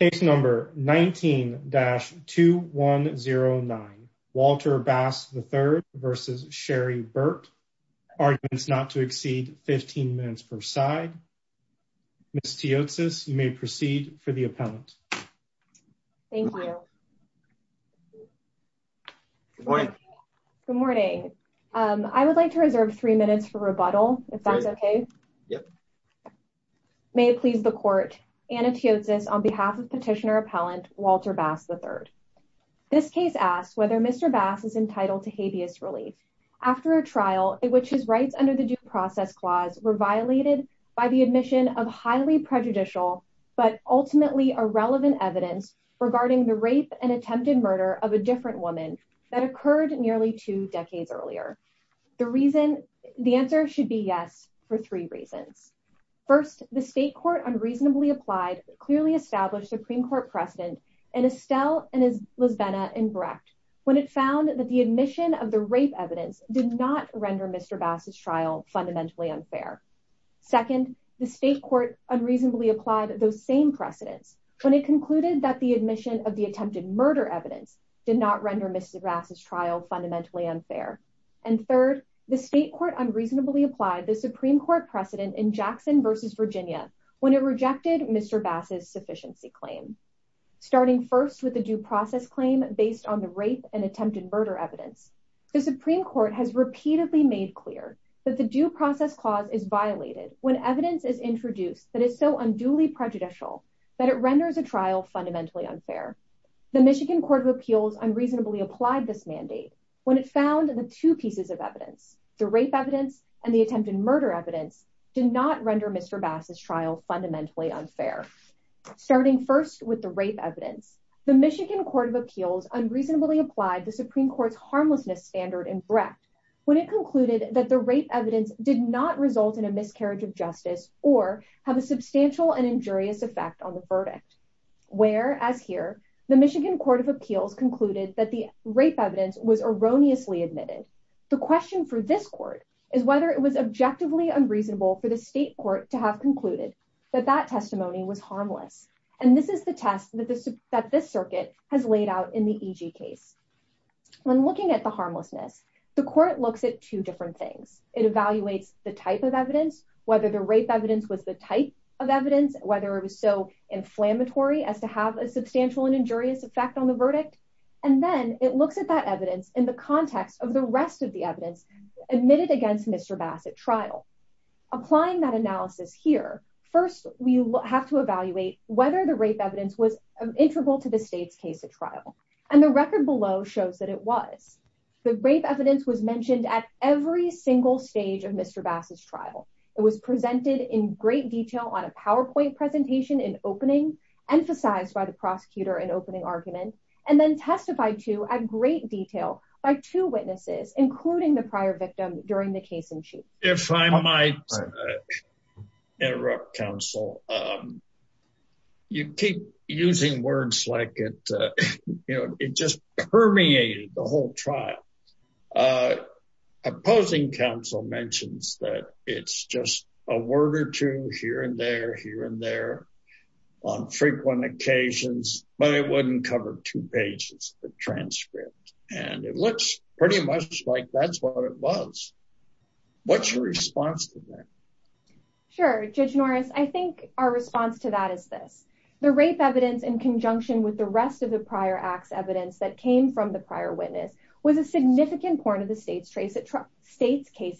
19-2109 Walter Bass III v. Sherry Burt Arguments not to exceed 15 minutes per side Ms. Teotsis, you may proceed for the appellant Thank you Good morning I would like to reserve 3 minutes for rebuttal, if that's okay May it please the court, Anna Teotsis on behalf of petitioner appellant Walter Bass III This case asks whether Mr. Bass is entitled to habeas relief After a trial in which his rights under the due process clause were violated by the admission of highly prejudicial but ultimately irrelevant evidence regarding the rape and attempted murder of a different woman that occurred nearly two decades earlier The reason, the answer should be yes for three reasons First, the state court unreasonably applied clearly established Supreme Court precedent in Estelle and in Lisbena and Brecht when it found that the admission of the rape evidence did not render Mr. Bass's trial fundamentally unfair Second, the state court unreasonably applied those same precedents when it concluded that the admission of the attempted murder evidence did not render Mr. Bass's trial fundamentally unfair And third, the state court unreasonably applied the Supreme Court precedent in Jackson versus Virginia when it rejected Mr. Bass's sufficiency claim Starting first with the due process claim based on the rape and attempted murder evidence The Supreme Court has repeatedly made clear that the due process clause is violated when evidence is introduced that is so unduly prejudicial that it renders a trial fundamentally unfair The Michigan Court of Appeals unreasonably applied this mandate when it found the two pieces of evidence the rape evidence and the attempted murder evidence did not render Mr. Bass's trial fundamentally unfair Starting first with the rape evidence The Michigan Court of Appeals unreasonably applied the Supreme Court's harmlessness standard in Brecht when it concluded that the rape evidence did not result in a miscarriage of justice or have a substantial and injurious effect on the verdict Whereas here, the Michigan Court of Appeals concluded that the rape evidence was erroneously admitted The question for this court is whether it was objectively unreasonable for the state court to have concluded that that testimony was harmless And this is the test that this circuit has laid out in the EG case When looking at the harmlessness, the court looks at two different things It evaluates the type of evidence, whether the rape evidence was the type of evidence whether it was so inflammatory as to have a substantial and injurious effect on the verdict And then it looks at that evidence in the context of the rest of the evidence admitted against Mr. Bass at trial Applying that analysis here First, we have to evaluate whether the rape evidence was integral to the state's case at trial And the record below shows that it was The rape evidence was mentioned at every single stage of Mr. Bass's trial It was presented in great detail on a PowerPoint presentation in opening emphasized by the prosecutor in opening argument And then testified to at great detail by two witnesses including the prior victim during the case in chief If I might interrupt, counsel You keep using words like it, you know, it just permeated the whole trial Opposing counsel mentions that it's just a word or two here and there, here and there on frequent occasions, but it wouldn't cover two pages of transcript And it looks pretty much like that's what it was What's your response to that? Sure, Judge Norris, I think our response to that is this The rape evidence in conjunction with the rest of the prior act's evidence that came from the prior witness was a significant part of the state's case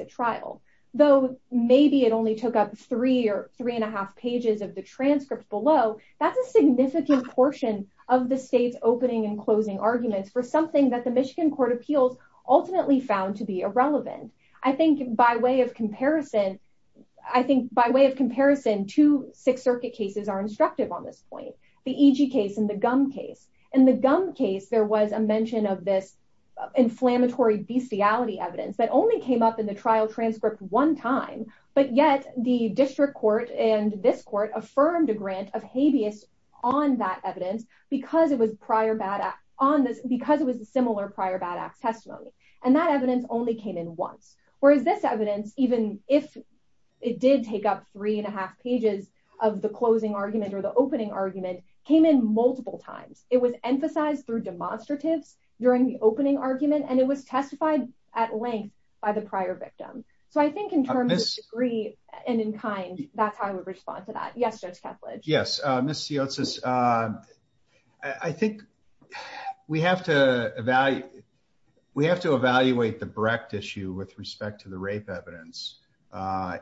at trial Though maybe it only took up three or three and a half pages of the transcript below That's a significant portion of the state's opening and closing arguments for something that the Michigan Court of Appeals ultimately found to be irrelevant I think by way of comparison, two Sixth Circuit cases are instructive on this point The EG case and the Gum case In the Gum case, there was a mention of this inflammatory bestiality evidence that only came up in the trial transcript one time But yet the district court and this court affirmed a grant of habeas on that evidence because it was a similar prior bad act testimony And that evidence only came in once Whereas this evidence, even if it did take up three and a half pages of the closing argument or the opening argument, came in multiple times It was emphasized through demonstratives during the opening argument and it was testified at length by the prior victim So I think in terms of degree and in kind, that's how I would respond to that Yes, Judge Kethledge Yes, Ms. Siotis, I think we have to evaluate the Brecht issue with respect to the rape evidence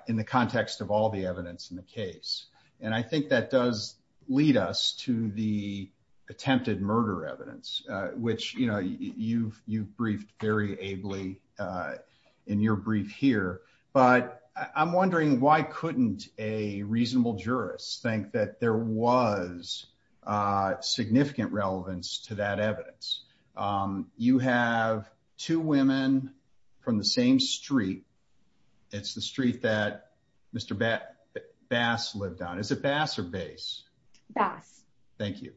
in the context of all the evidence in the case And I think that does lead us to the attempted murder evidence which you've briefed very ably in your brief here But I'm wondering why couldn't a reasonable jurist think that there was significant relevance to that evidence? You have two women from the same street It's the street that Mr. Bass lived on Is it Bass or Bass? Bass Thank you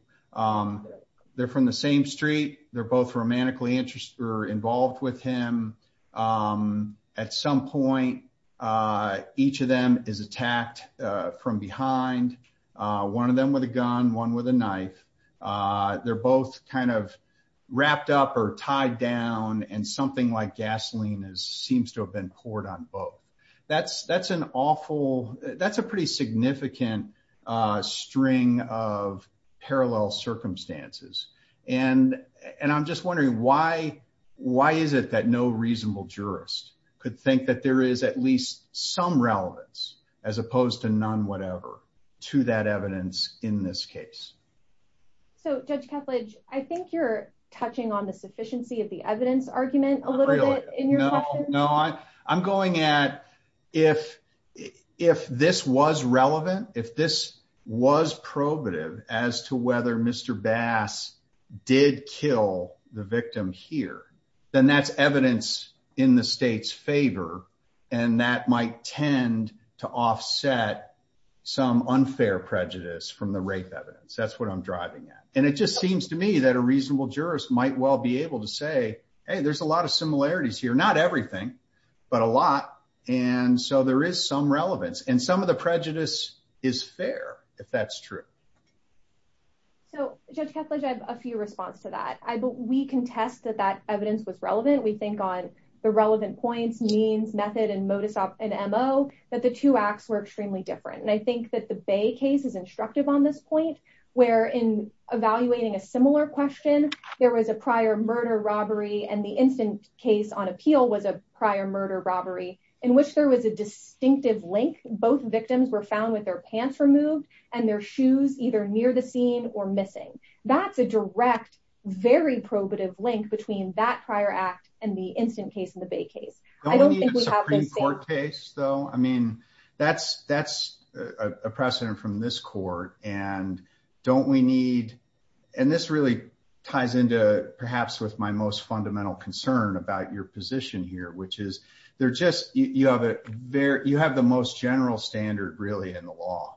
They're from the same street They're both romantically interested or involved with him At some point, each of them is attacked from behind One of them with a gun, one with a knife They're both kind of wrapped up or tied down And something like gasoline seems to have been poured on both That's a pretty significant string of parallel circumstances And I'm just wondering why is it that no reasonable jurist could think that there is at least some relevance as opposed to none whatever to that evidence in this case? Judge Kethledge, I think you're touching on the sufficiency of the evidence argument a little bit No, I'm going at if this was relevant, if this was probative as to whether Mr. Bass did kill the victim here then that's evidence in the state's favor And that might tend to offset some unfair prejudice from the rape evidence That's what I'm driving at And it just seems to me that a reasonable jurist might well be able to say Hey, there's a lot of similarities here Not everything, but a lot And so there is some relevance And some of the prejudice is fair, if that's true So, Judge Kethledge, I have a few responses to that We contest that that evidence was relevant We think on the relevant points, means, method, and modus op, and MO That the two acts were extremely different And I think that the Bay case is instructive on this point Where in evaluating a similar question There was a prior murder-robbery And the instant case on appeal was a prior murder-robbery In which there was a distinctive link Both victims were found with their pants removed And their shoes either near the scene or missing That's a direct, very probative link Between that prior act and the instant case and the Bay case Don't we need a Supreme Court case, though? I mean, that's a precedent from this court And don't we need... And this really ties into, perhaps, with my most fundamental concern About your position here Which is, you have the most general standard, really, in the law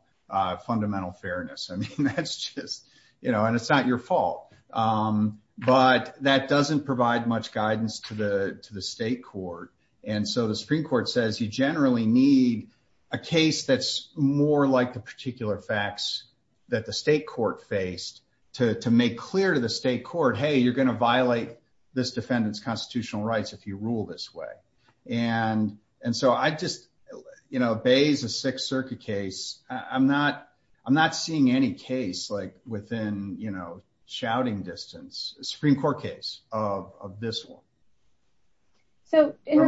Fundamental fairness I mean, that's just... And it's not your fault But that doesn't provide much guidance to the state court And so the Supreme Court says You generally need a case that's more like the particular facts That the state court faced To make clear to the state court Hey, you're going to violate this defendant's constitutional rights If you rule this way And so I just... You know, Bay is a Sixth Circuit case I'm not seeing any case within shouting distance A Supreme Court case of this one So, in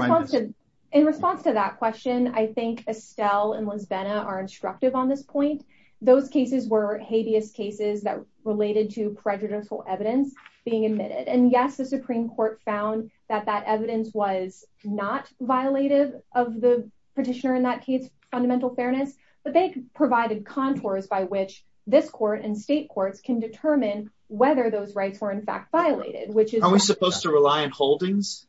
response to that question I think Estelle and Lizbena are instructive on this point Those cases were habeas cases That related to prejudicial evidence being admitted And yes, the Supreme Court found that that evidence was not violative Of the petitioner in that case's fundamental fairness But they provided contours by which this court and state courts Can determine whether those rights were in fact violated Are we supposed to rely on holdings?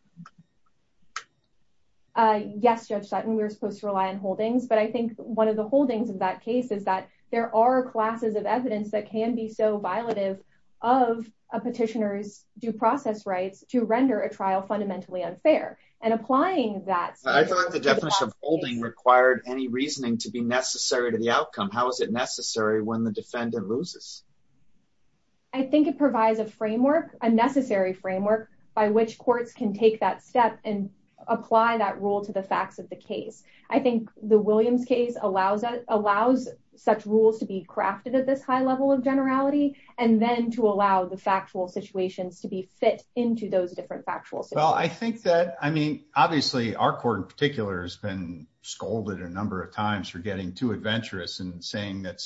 Yes, Judge Sutton, we're supposed to rely on holdings But I think one of the holdings of that case Is that there are classes of evidence That can be so violative of a petitioner's due process rights To render a trial fundamentally unfair And applying that... I thought the definition of holding required any reasoning To be necessary to the outcome How is it necessary when the defendant loses? I think it provides a framework A necessary framework by which courts can take that step And apply that rule to the facts of the case I think the Williams case allows such rules to be crafted At this high level of generality And then to allow the factual situations To be fit into those different factual situations Obviously our court in particular Has been scolded a number of times For getting too adventurous And saying that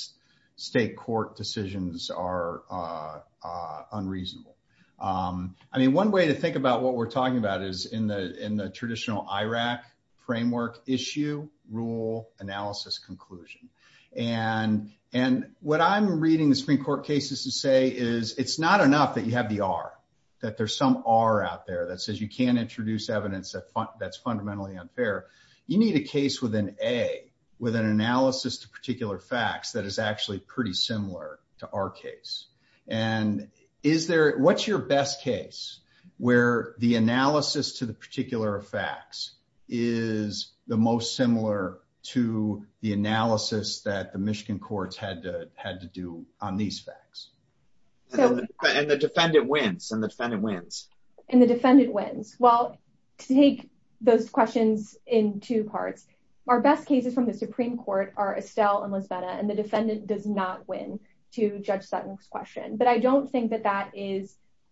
state court decisions are unreasonable One way to think about what we're talking about Is in the traditional IRAC framework Issue, rule, analysis, conclusion What I'm reading the Supreme Court cases to say Is it's not enough that you have the R That there's some R out there That says you can't introduce evidence That's fundamentally unfair You need a case with an A With an analysis to particular facts That is actually pretty similar to our case What's your best case Where the analysis to the particular facts Is the most similar to the analysis That the Michigan courts had to do on these facts? And the defendant wins And the defendant wins Well, to take those questions in two parts Our best cases from the Supreme Court Are Estelle and Lisbetta And the defendant does not win To Judge Sutton's question But I don't think that that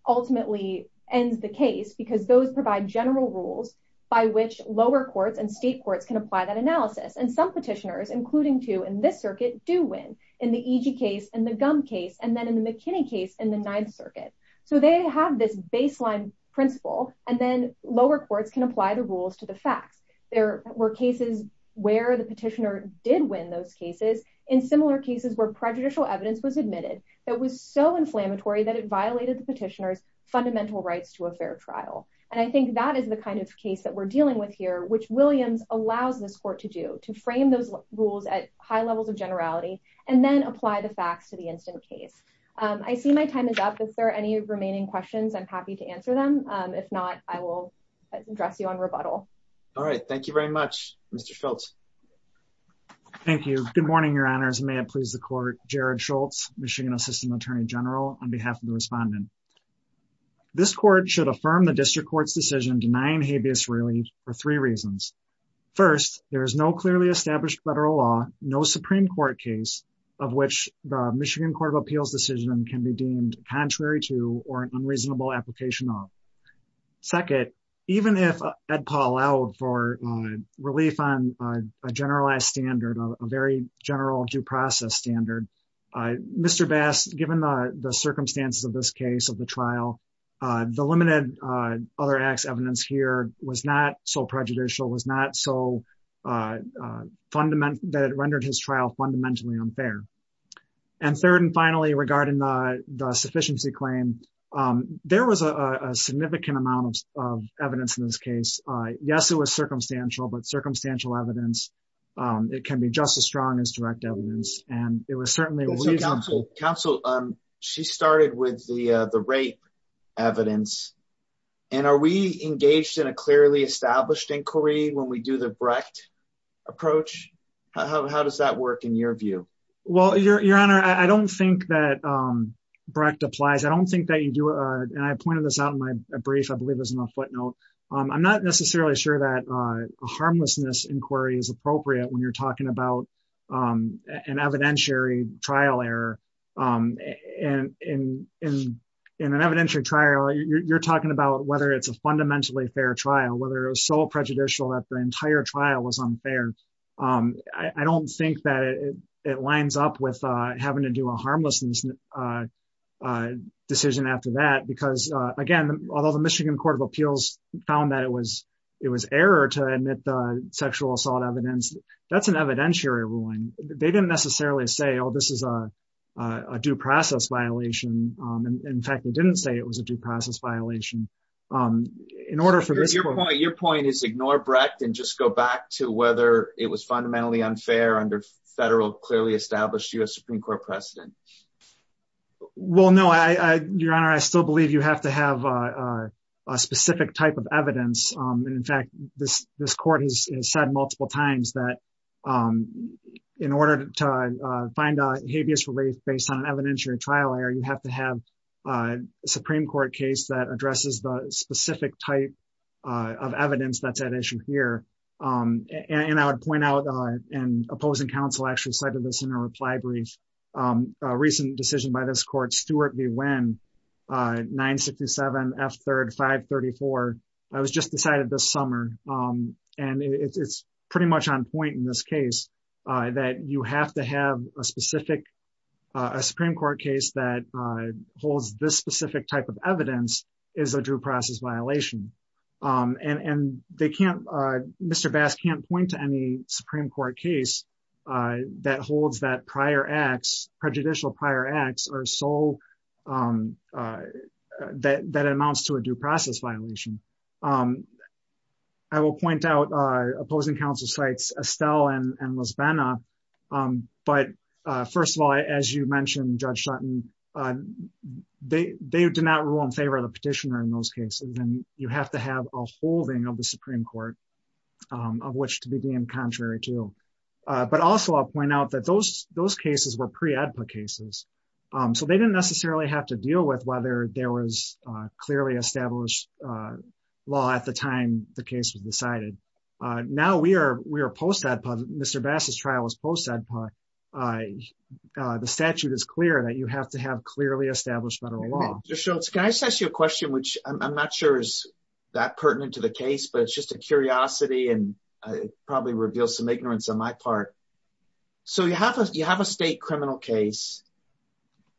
ultimately ends the case Because those provide general rules By which lower courts and state courts Can apply that analysis And some petitioners, including two in this circuit Do win, in the Egy case and the Gum case And then in the McKinney case in the Ninth Circuit So they have this baseline principle And then lower courts can apply the rules to the facts There were cases where the petitioner did win those cases In similar cases where prejudicial evidence was admitted That was so inflammatory that it violated the petitioner's Fundamental rights to a fair trial And I think that is the kind of case that we're dealing with here Which Williams allows this court to do To frame those rules at high levels of generality And then apply the facts to the instant case I see my time is up If there are any remaining questions I'm happy to answer them If not, I will address you on rebuttal All right, thank you very much, Mr. Schultz Thank you Good morning, your honors May it please the court Jared Schultz, Michigan Assistant Attorney General On behalf of the respondent This court should affirm the district court's decision Denying habeas really for three reasons First, there is no clearly established federal law No Supreme Court case Of which the Michigan Court of Appeals decision Can be deemed contrary to Or an unreasonable application of Second, even if Ed Paul allowed for relief On a generalized standard A very general due process standard Mr. Bass, given the circumstances of this case Of the trial The limited other acts evidence here Was not so prejudicial Was not so fundamental That rendered his trial fundamentally unfair And third and finally Regarding the sufficiency claim There was a significant amount of evidence In this case Yes, it was circumstantial But circumstantial evidence It can be just as strong as direct evidence And it was certainly Counsel, she started with the rape evidence And are we engaged in a clearly established inquiry When we do the Brecht approach How does that work in your view Well, your honor I don't think that Brecht applies I don't think that you do And I pointed this out in my brief I believe it was in a footnote I'm not necessarily sure that Harmlessness inquiry is appropriate When you're talking about An evidentiary trial error And in an evidentiary trial You're talking about Whether it's a fundamentally fair trial Or whether it was so prejudicial That the entire trial was unfair I don't think that it lines up With having to do a harmless Decision after that Because again Although the Michigan Court of Appeals Found that it was It was error to admit The sexual assault evidence That's an evidentiary ruling They didn't necessarily say Oh, this is a due process violation In fact, they didn't say It was a due process violation Your point is ignore Brecht And just go back to whether It was fundamentally unfair Under federal clearly established U.S. Supreme Court precedent Well, no, your honor I still believe you have to have A specific type of evidence And in fact, this court Has said multiple times that In order to find a habeas relief Based on an evidentiary trial error You have to have a Supreme Court case That addresses the specific type Of evidence that's at issue here And I would point out And opposing counsel actually Cited this in a reply brief A recent decision by this court Stewart v. Winn 967 F. 3rd 534 I was just decided this summer And it's pretty much on point In this case That you have to have a specific A Supreme Court case that Holds this specific type of evidence Is a due process violation And they can't Mr. Bass can't point to any Supreme Court case That holds that prior acts Prejudicial prior acts are so That amounts to a due process violation I will point out opposing counsel Cites Estelle and Lisbena But first of all, as you mentioned Judge Sutton They did not rule in favor of the petitioner In those cases And you have to have a holding Of the Supreme Court Of which to be deemed contrary to But also I'll point out that those Those cases were pre-AEDPA cases So they didn't necessarily have to deal with Whether there was clearly established Law at the time the case was decided Now we are post-AEDPA Mr. Bass's trial was post-AEDPA The statute is clear that you have to have Clearly established federal law Judge Schultz, can I just ask you a question Which I'm not sure is That pertinent to the case But it's just a curiosity And probably reveals some ignorance on my part So you have a state criminal case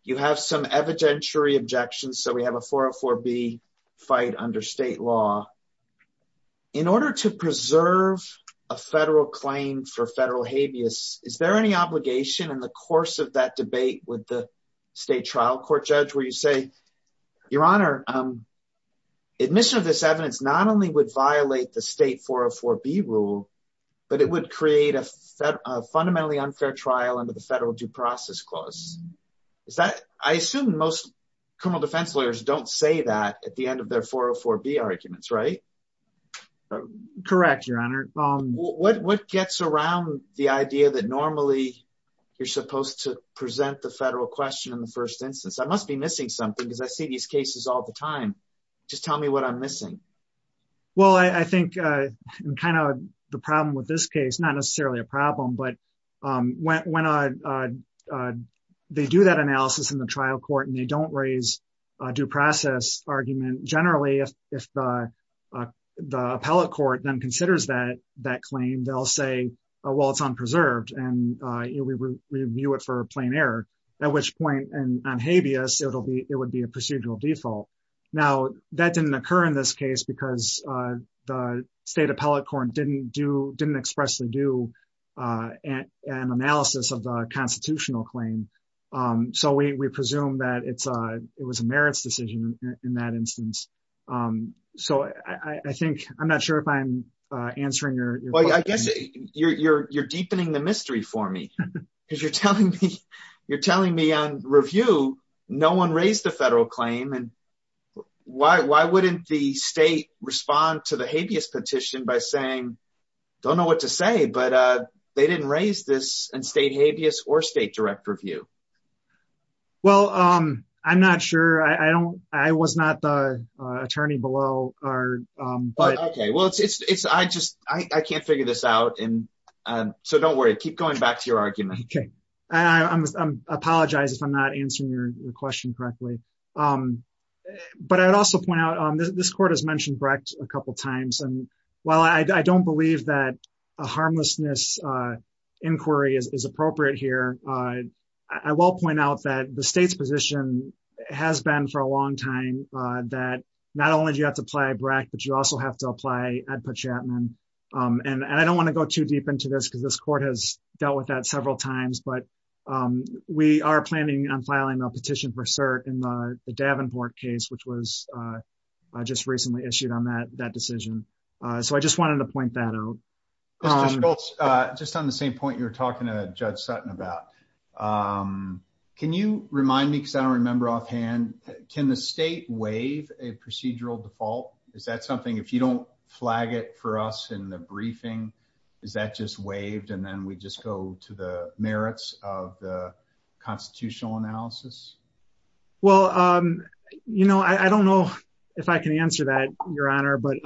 You have some evidentiary objections So we have a 404B fight under state law In order to preserve A federal claim for federal habeas Is there any obligation In the course of that debate With the state trial court judge Where you say Your honor Admission of this evidence Not only would violate the state 404B rule But it would create a fundamentally unfair trial Under the federal due process clause Is that I assume most criminal defense lawyers Don't say that At the end of their 404B arguments, right? Correct, your honor What gets around The idea that normally You're supposed to present the federal question In the first instance I must be missing something Because I see these cases all the time Just tell me what I'm missing Well, I think Kind of the problem with this case Not necessarily a problem But when They do that analysis in the trial court And they don't raise A due process argument Generally, if The appellate court Then considers that claim They'll say Well, it's unpreserved And we review it for a plain error At which point On habeas It would be a procedural default Now, that didn't occur in this case Because the state appellate court Didn't expressly do An analysis of the constitutional claim So we presume that It was a merits decision In that instance So I think I'm not sure if I'm Answering your question Well, I guess You're deepening the mystery for me Because you're telling me You're telling me on review No one raised the federal claim And why wouldn't the state Respond to the habeas petition By saying Don't know what to say But they didn't raise this In state habeas Or state direct review Well, I'm not sure I don't I was not the Attorney below Okay, well It's I just I can't figure this out And so don't worry Keep going back to your argument Okay I apologize If I'm not answering Your question correctly But I would also point out This court has mentioned Brecht a couple times And while I don't believe That a harmlessness Inquiry is appropriate here I will point out That the state's position Has been for a long time That not only do you Have to apply Brecht But you also have to apply Ed Pachatman And I don't want to go Too deep into this Because this court has Dealt with that several times But we are planning On filing a petition for cert In the Davenport case Which was Just recently issued On that decision So I just wanted to point that out Just on the same point You were talking to Judge Sutton about Can you remind me I don't remember offhand Can the state Waive a procedural default Is that something If you don't flag it For us in the briefing Is that just waived And then we just go To the merits Of the constitutional analysis Well, you know I don't know If I can answer that Your honor But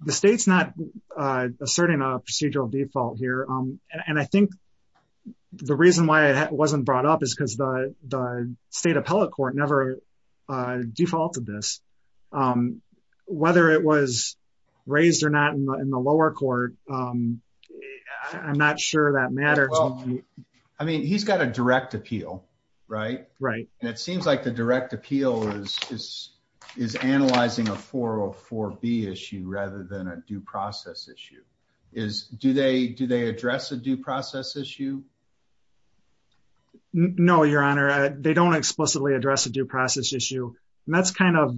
the state's not Asserting a procedural default here And I think The reason why It wasn't brought up Is because The state appellate court Never defaulted this Whether it was raised or not In the lower court I'm not sure that matters I mean, he's got a direct appeal Right? Right And it seems like the direct appeal Is analyzing a 404B issue Rather than a due process issue Do they address a due process issue? No, your honor They don't explicitly address A due process issue And that's kind of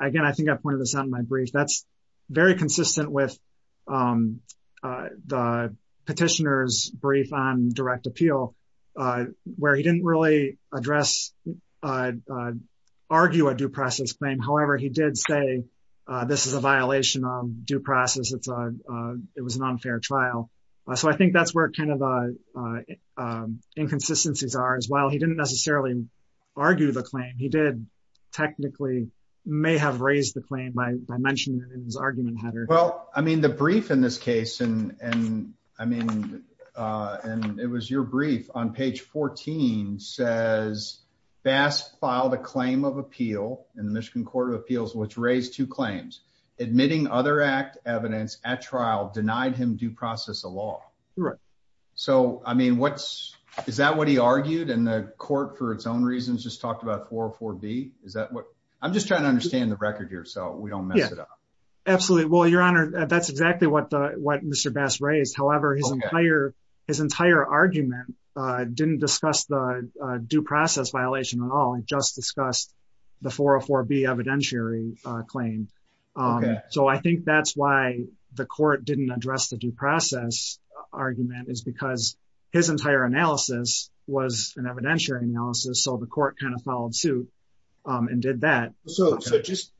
Again, I think I pointed this out In my brief That's very consistent with The petitioner's brief On direct appeal Where he didn't really address Argue a due process claim However, he did say This is a violation of due process It's a It was an unfair trial So I think that's where The kind of Inconsistencies are As well He didn't necessarily Argue the claim He did Technically May have raised the claim By mentioning it In his argument header Well, I mean The brief in this case And I mean It was your brief On page 14 Says Bass filed a claim of appeal In the Michigan Court of Appeals Which raised two claims Admitting other act evidence At trial Denied him due process of law Right So, I mean What's Is that what he argued In the court For its own reasons Just talked about 404B Is that what I'm just trying to understand The record here So we don't mess it up Absolutely Well, your honor That's exactly what Mr. Bass raised However, his entire His entire argument Didn't discuss the Due process violation at all It just discussed The 404B evidentiary claim Okay So I think that's why The court didn't address The due process argument Is because His entire analysis Was an evidentiary analysis So the court kind of Followed suit And did that So just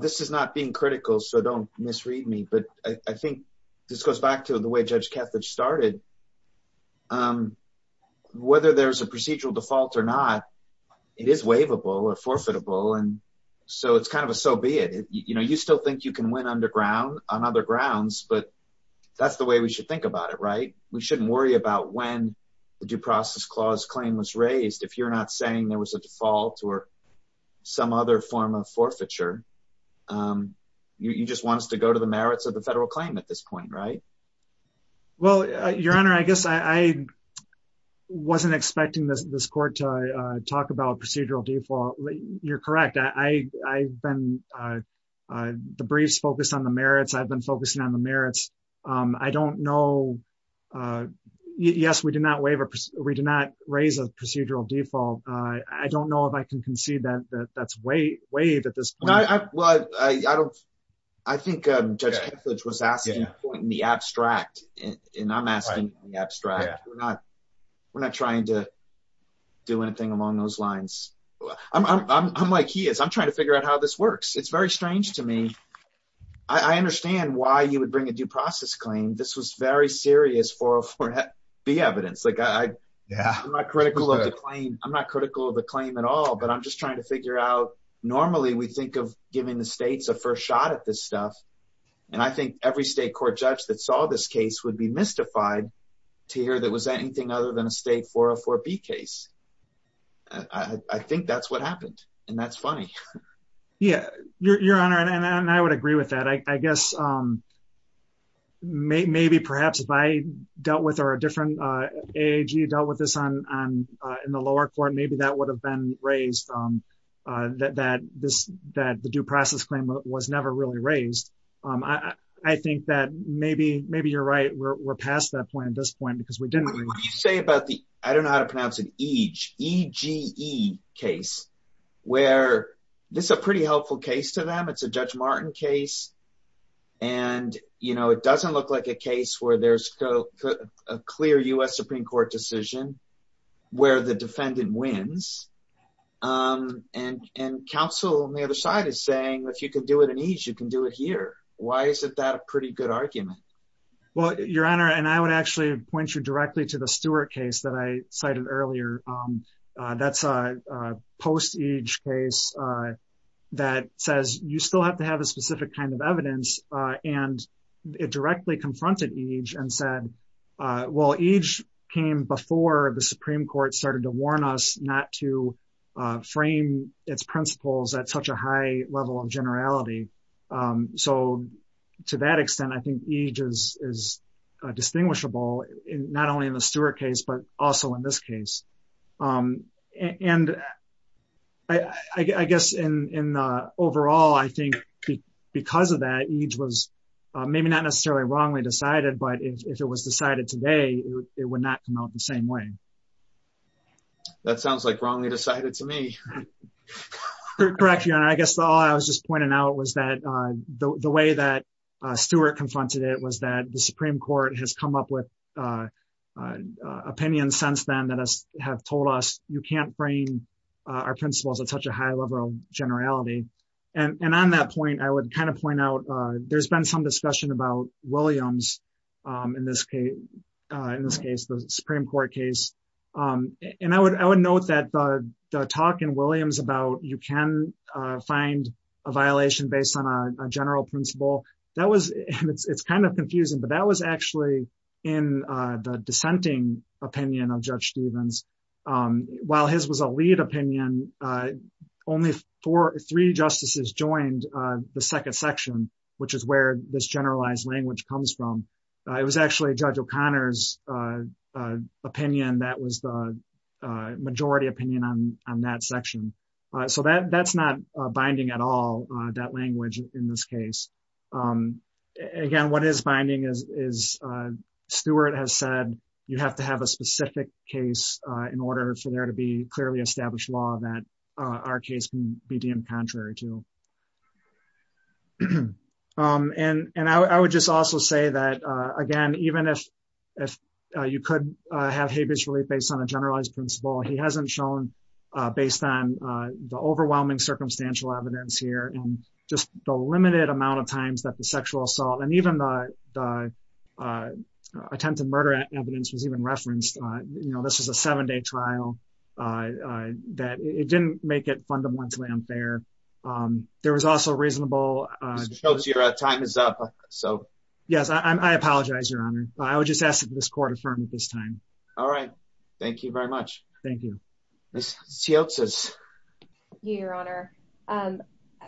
This is not being critical So don't misread me But I think This goes back to The way Judge Kethledge started Whether there's A procedural default or not It is waivable Or forfeitable And so it's kind of a So be it You know, you still think You can win underground On other grounds But that's the way We should think about it Right? We shouldn't worry about When the due process Clause claim was raised If you're not saying There was a default Or some other form of forfeiture You just want us To go to the merits Of the federal claim At this point, right? Well, your honor I guess I Wasn't expecting this Court to talk about Procedural default You're correct I've been The briefs focused On the merits I've been focusing On the merits I don't know Yes, we did not Raise a procedural default I don't know If I can concede That that's waived At this point Well, I don't I think Judge Kethledge Was asking In the abstract And I'm asking In the abstract We're not We're not trying to Do anything Among those lines I'm like he is I'm trying to figure out How this works It's very strange to me I understand Why you would bring A due process claim This was very serious 404B evidence Like I Yeah I'm not critical Of the claim I'm not critical Of the claim at all But I'm just trying To figure out Normally we think Of giving the states A first shot At this stuff And I think Every state court judge That saw this case Would be mystified To hear that It was anything Other than a state 404B case I think that's What happened And that's funny Yeah Your Honor And I would agree with that I guess Maybe perhaps If I Dealt with A different AAG Dealt with this In the lower court Maybe that would have been Raised That this That the due process claim Was never really raised I think that Maybe Maybe you're right We're past that point At this point Because we didn't What do you say about the I don't know how to pronounce it EGE E-G-E Case Where This is a pretty Helpful case to them It's a Judge Martin case And You know It doesn't look like a case Where there's A clear U.S. Supreme Court decision Where the defendant Wins And And counsel On the other side Is saying If you can do it in EGE You can do it here Why isn't that A pretty good argument Well Your Honor And I would actually Point you directly To the Stewart case That I cited earlier That's a Post-EGE case That says You still have to have A specific kind of evidence And It directly confronted EGE And said Well EGE Came before The Supreme Court Started to warn us Not to Frame Its principles At such a high level Of generality So To that extent I think EGE is Is Distinguishable Not only in the Stewart case But also in this case And I guess In Overall I think Because of that EGE was Maybe not necessarily Wrongly decided But if it was decided Today It would not come out The same way That sounds like Wrongly decided to me Correct Your Honor I guess all I was just Pointing out was that The way that Stewart confronted it Was that the Supreme Court Has come up with Opinions since then That have told us You can't frame Our principles At such a high level Of generality And on that point I would kind of point out There's been some discussion About Williams In this case The Supreme Court case And I would note that The talk in Williams About you can Find A violation based on A general principle That was It's kind of confusing But that was actually In The dissenting Opinion of Judge Stevens While his was a lead Opinion Only Three justices Joined The second section Which is where This generalized language Comes from It was actually Judge O'Connor's Opinion that was The majority opinion On that section So that's not Binding at all That language In this case Again what is Binding is Stewart has said You have to have A specific case In order For there to be Clearly established law That Our case Can be deemed Contrary to And I would just Also say that Again even if You could Have Based on a generalized Principle He hasn't shown Based on The overwhelming Circumstantial evidence Here and Just the limited Amount of times That the sexual assault And even Attempted murder And I think The evidence Was even referenced You know this is A seven day trial That it didn't Make it fundamentally Unfair There was also Reasonable Time is up So yes I apologize Your honor I would just ask This court Affirm at this time All right Thank you very much Thank you Miss Yeltsin Your honor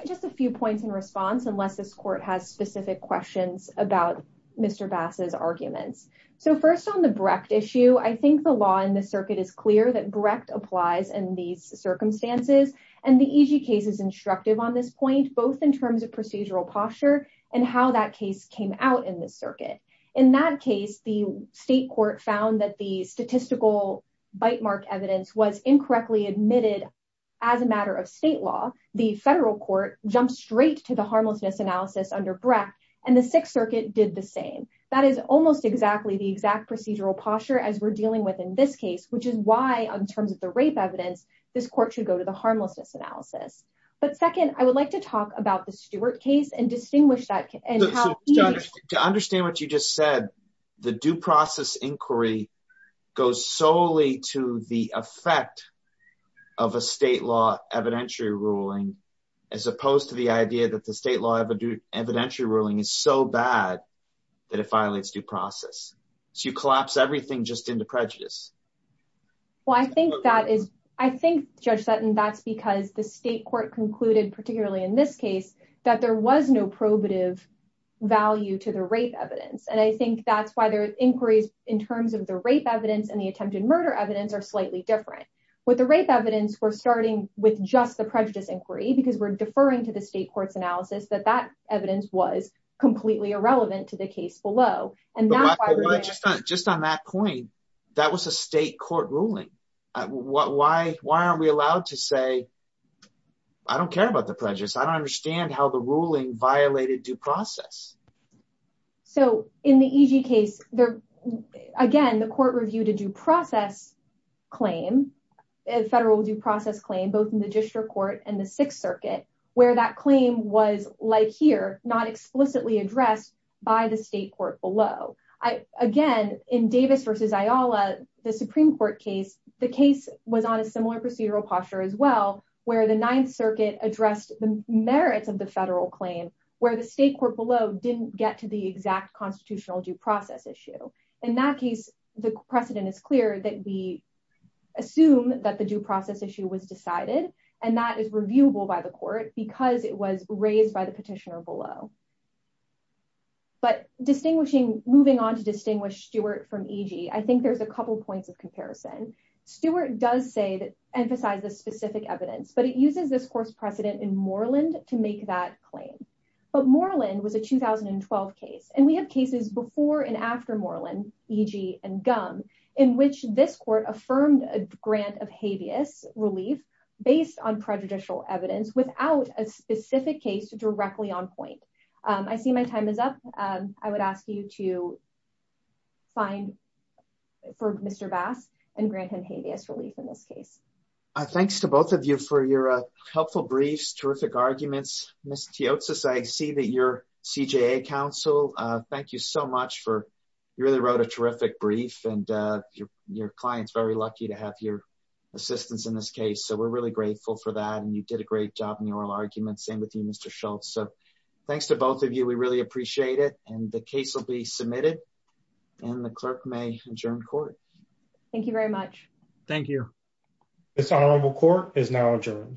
Just a few Points in response Unless this court Has specific Questions About Mr. Bass's Arguments So first on the Brecht issue I think the law In the circuit Is clear that Brecht applies In these Circumstances And the easy Case is instructive On this point Both in terms Of procedural Posture and How that case Came out in The circuit In that case The state Court found That the Statistical Bite mark Evidence was Incorrectly So in The case Of state Law the Federal court Jumped straight To the Harmlessness Analysis under Brecht and The 6th Circuit did The same That is Almost exactly The exact Procedural Posture as We're dealing With in this Case which Is why In terms Of the Rape Evidence This court Should go To the State Law evidentiary Ruling as Opposed to The idea That the State Law evidentiary Ruling is So bad That it Violates due Process so You collapse Everything into Prejudice I think Judge Sutton that's Because the State Court Concluded Particularly In this Case that There was No probative Value to The Rape Evidence And I Think that's Why the Inquiries In terms Of the Rape Evidence Are slightly Different With the Rape Evidence We're Deferring To the State Court Analysis That Evidence Was Completely Irrelevant To the Case So Mention that Just Just on That point That was A state Court Ruling Why Are we Allowed to Say I Don't care About the Prejudice I Don't Understand How the Ruling Violated due Process In the E.G. Case Again the Court Ruling Was Adversely Addressed By the State Court Below Again in Davis Versus Ayala The Supreme Court Case The Case Was On A Similar Posture As Well Where The 9th Circuit Addressed The Merits Of The Federal Claim Where The Court The Exact Constitutional Due Process Issue In That Case The Precedent Is Clear That We Assume That The Due Process Issue Was Decided And That Is Reviewable By The Court Because It Was Raised By The Petitioner Below Moving On To Distinguish Stewart E.G. I Think There Is A Couple Points Of Comparison Stewart Does Say Emphasize The Specific Evidence But It Uses This Course Precedent In Moreland To Make That Claim But Moreland Was A 2012 Case And We Have Cases Before And After Moreland In Which This Court Affirmed A Grant Of Habeas Relief Based On Prejudicial Evidence Without A Specific Case Directly On Point. I See My Time Is Up. I Would Ask You To Find For Mr. Bass And Grant Him Habeas Relief In This Case. Thanks To Both Of You For Your Helpful Briefs Terrific Arguments. I See That Your CJA Counsel Thank You So Much. You Really Wrote A Terrific Brief And Your Client Is Very Lucky To Have Your Assistance In This Case. We Are Grateful For That. Thanks To Both Of You. We Really Appreciate It. The Case Will Be Submitted And The Clerk May Adjourn Court. Thank You Very Much. Thank You. This Honorable Court Is Now Adjourned.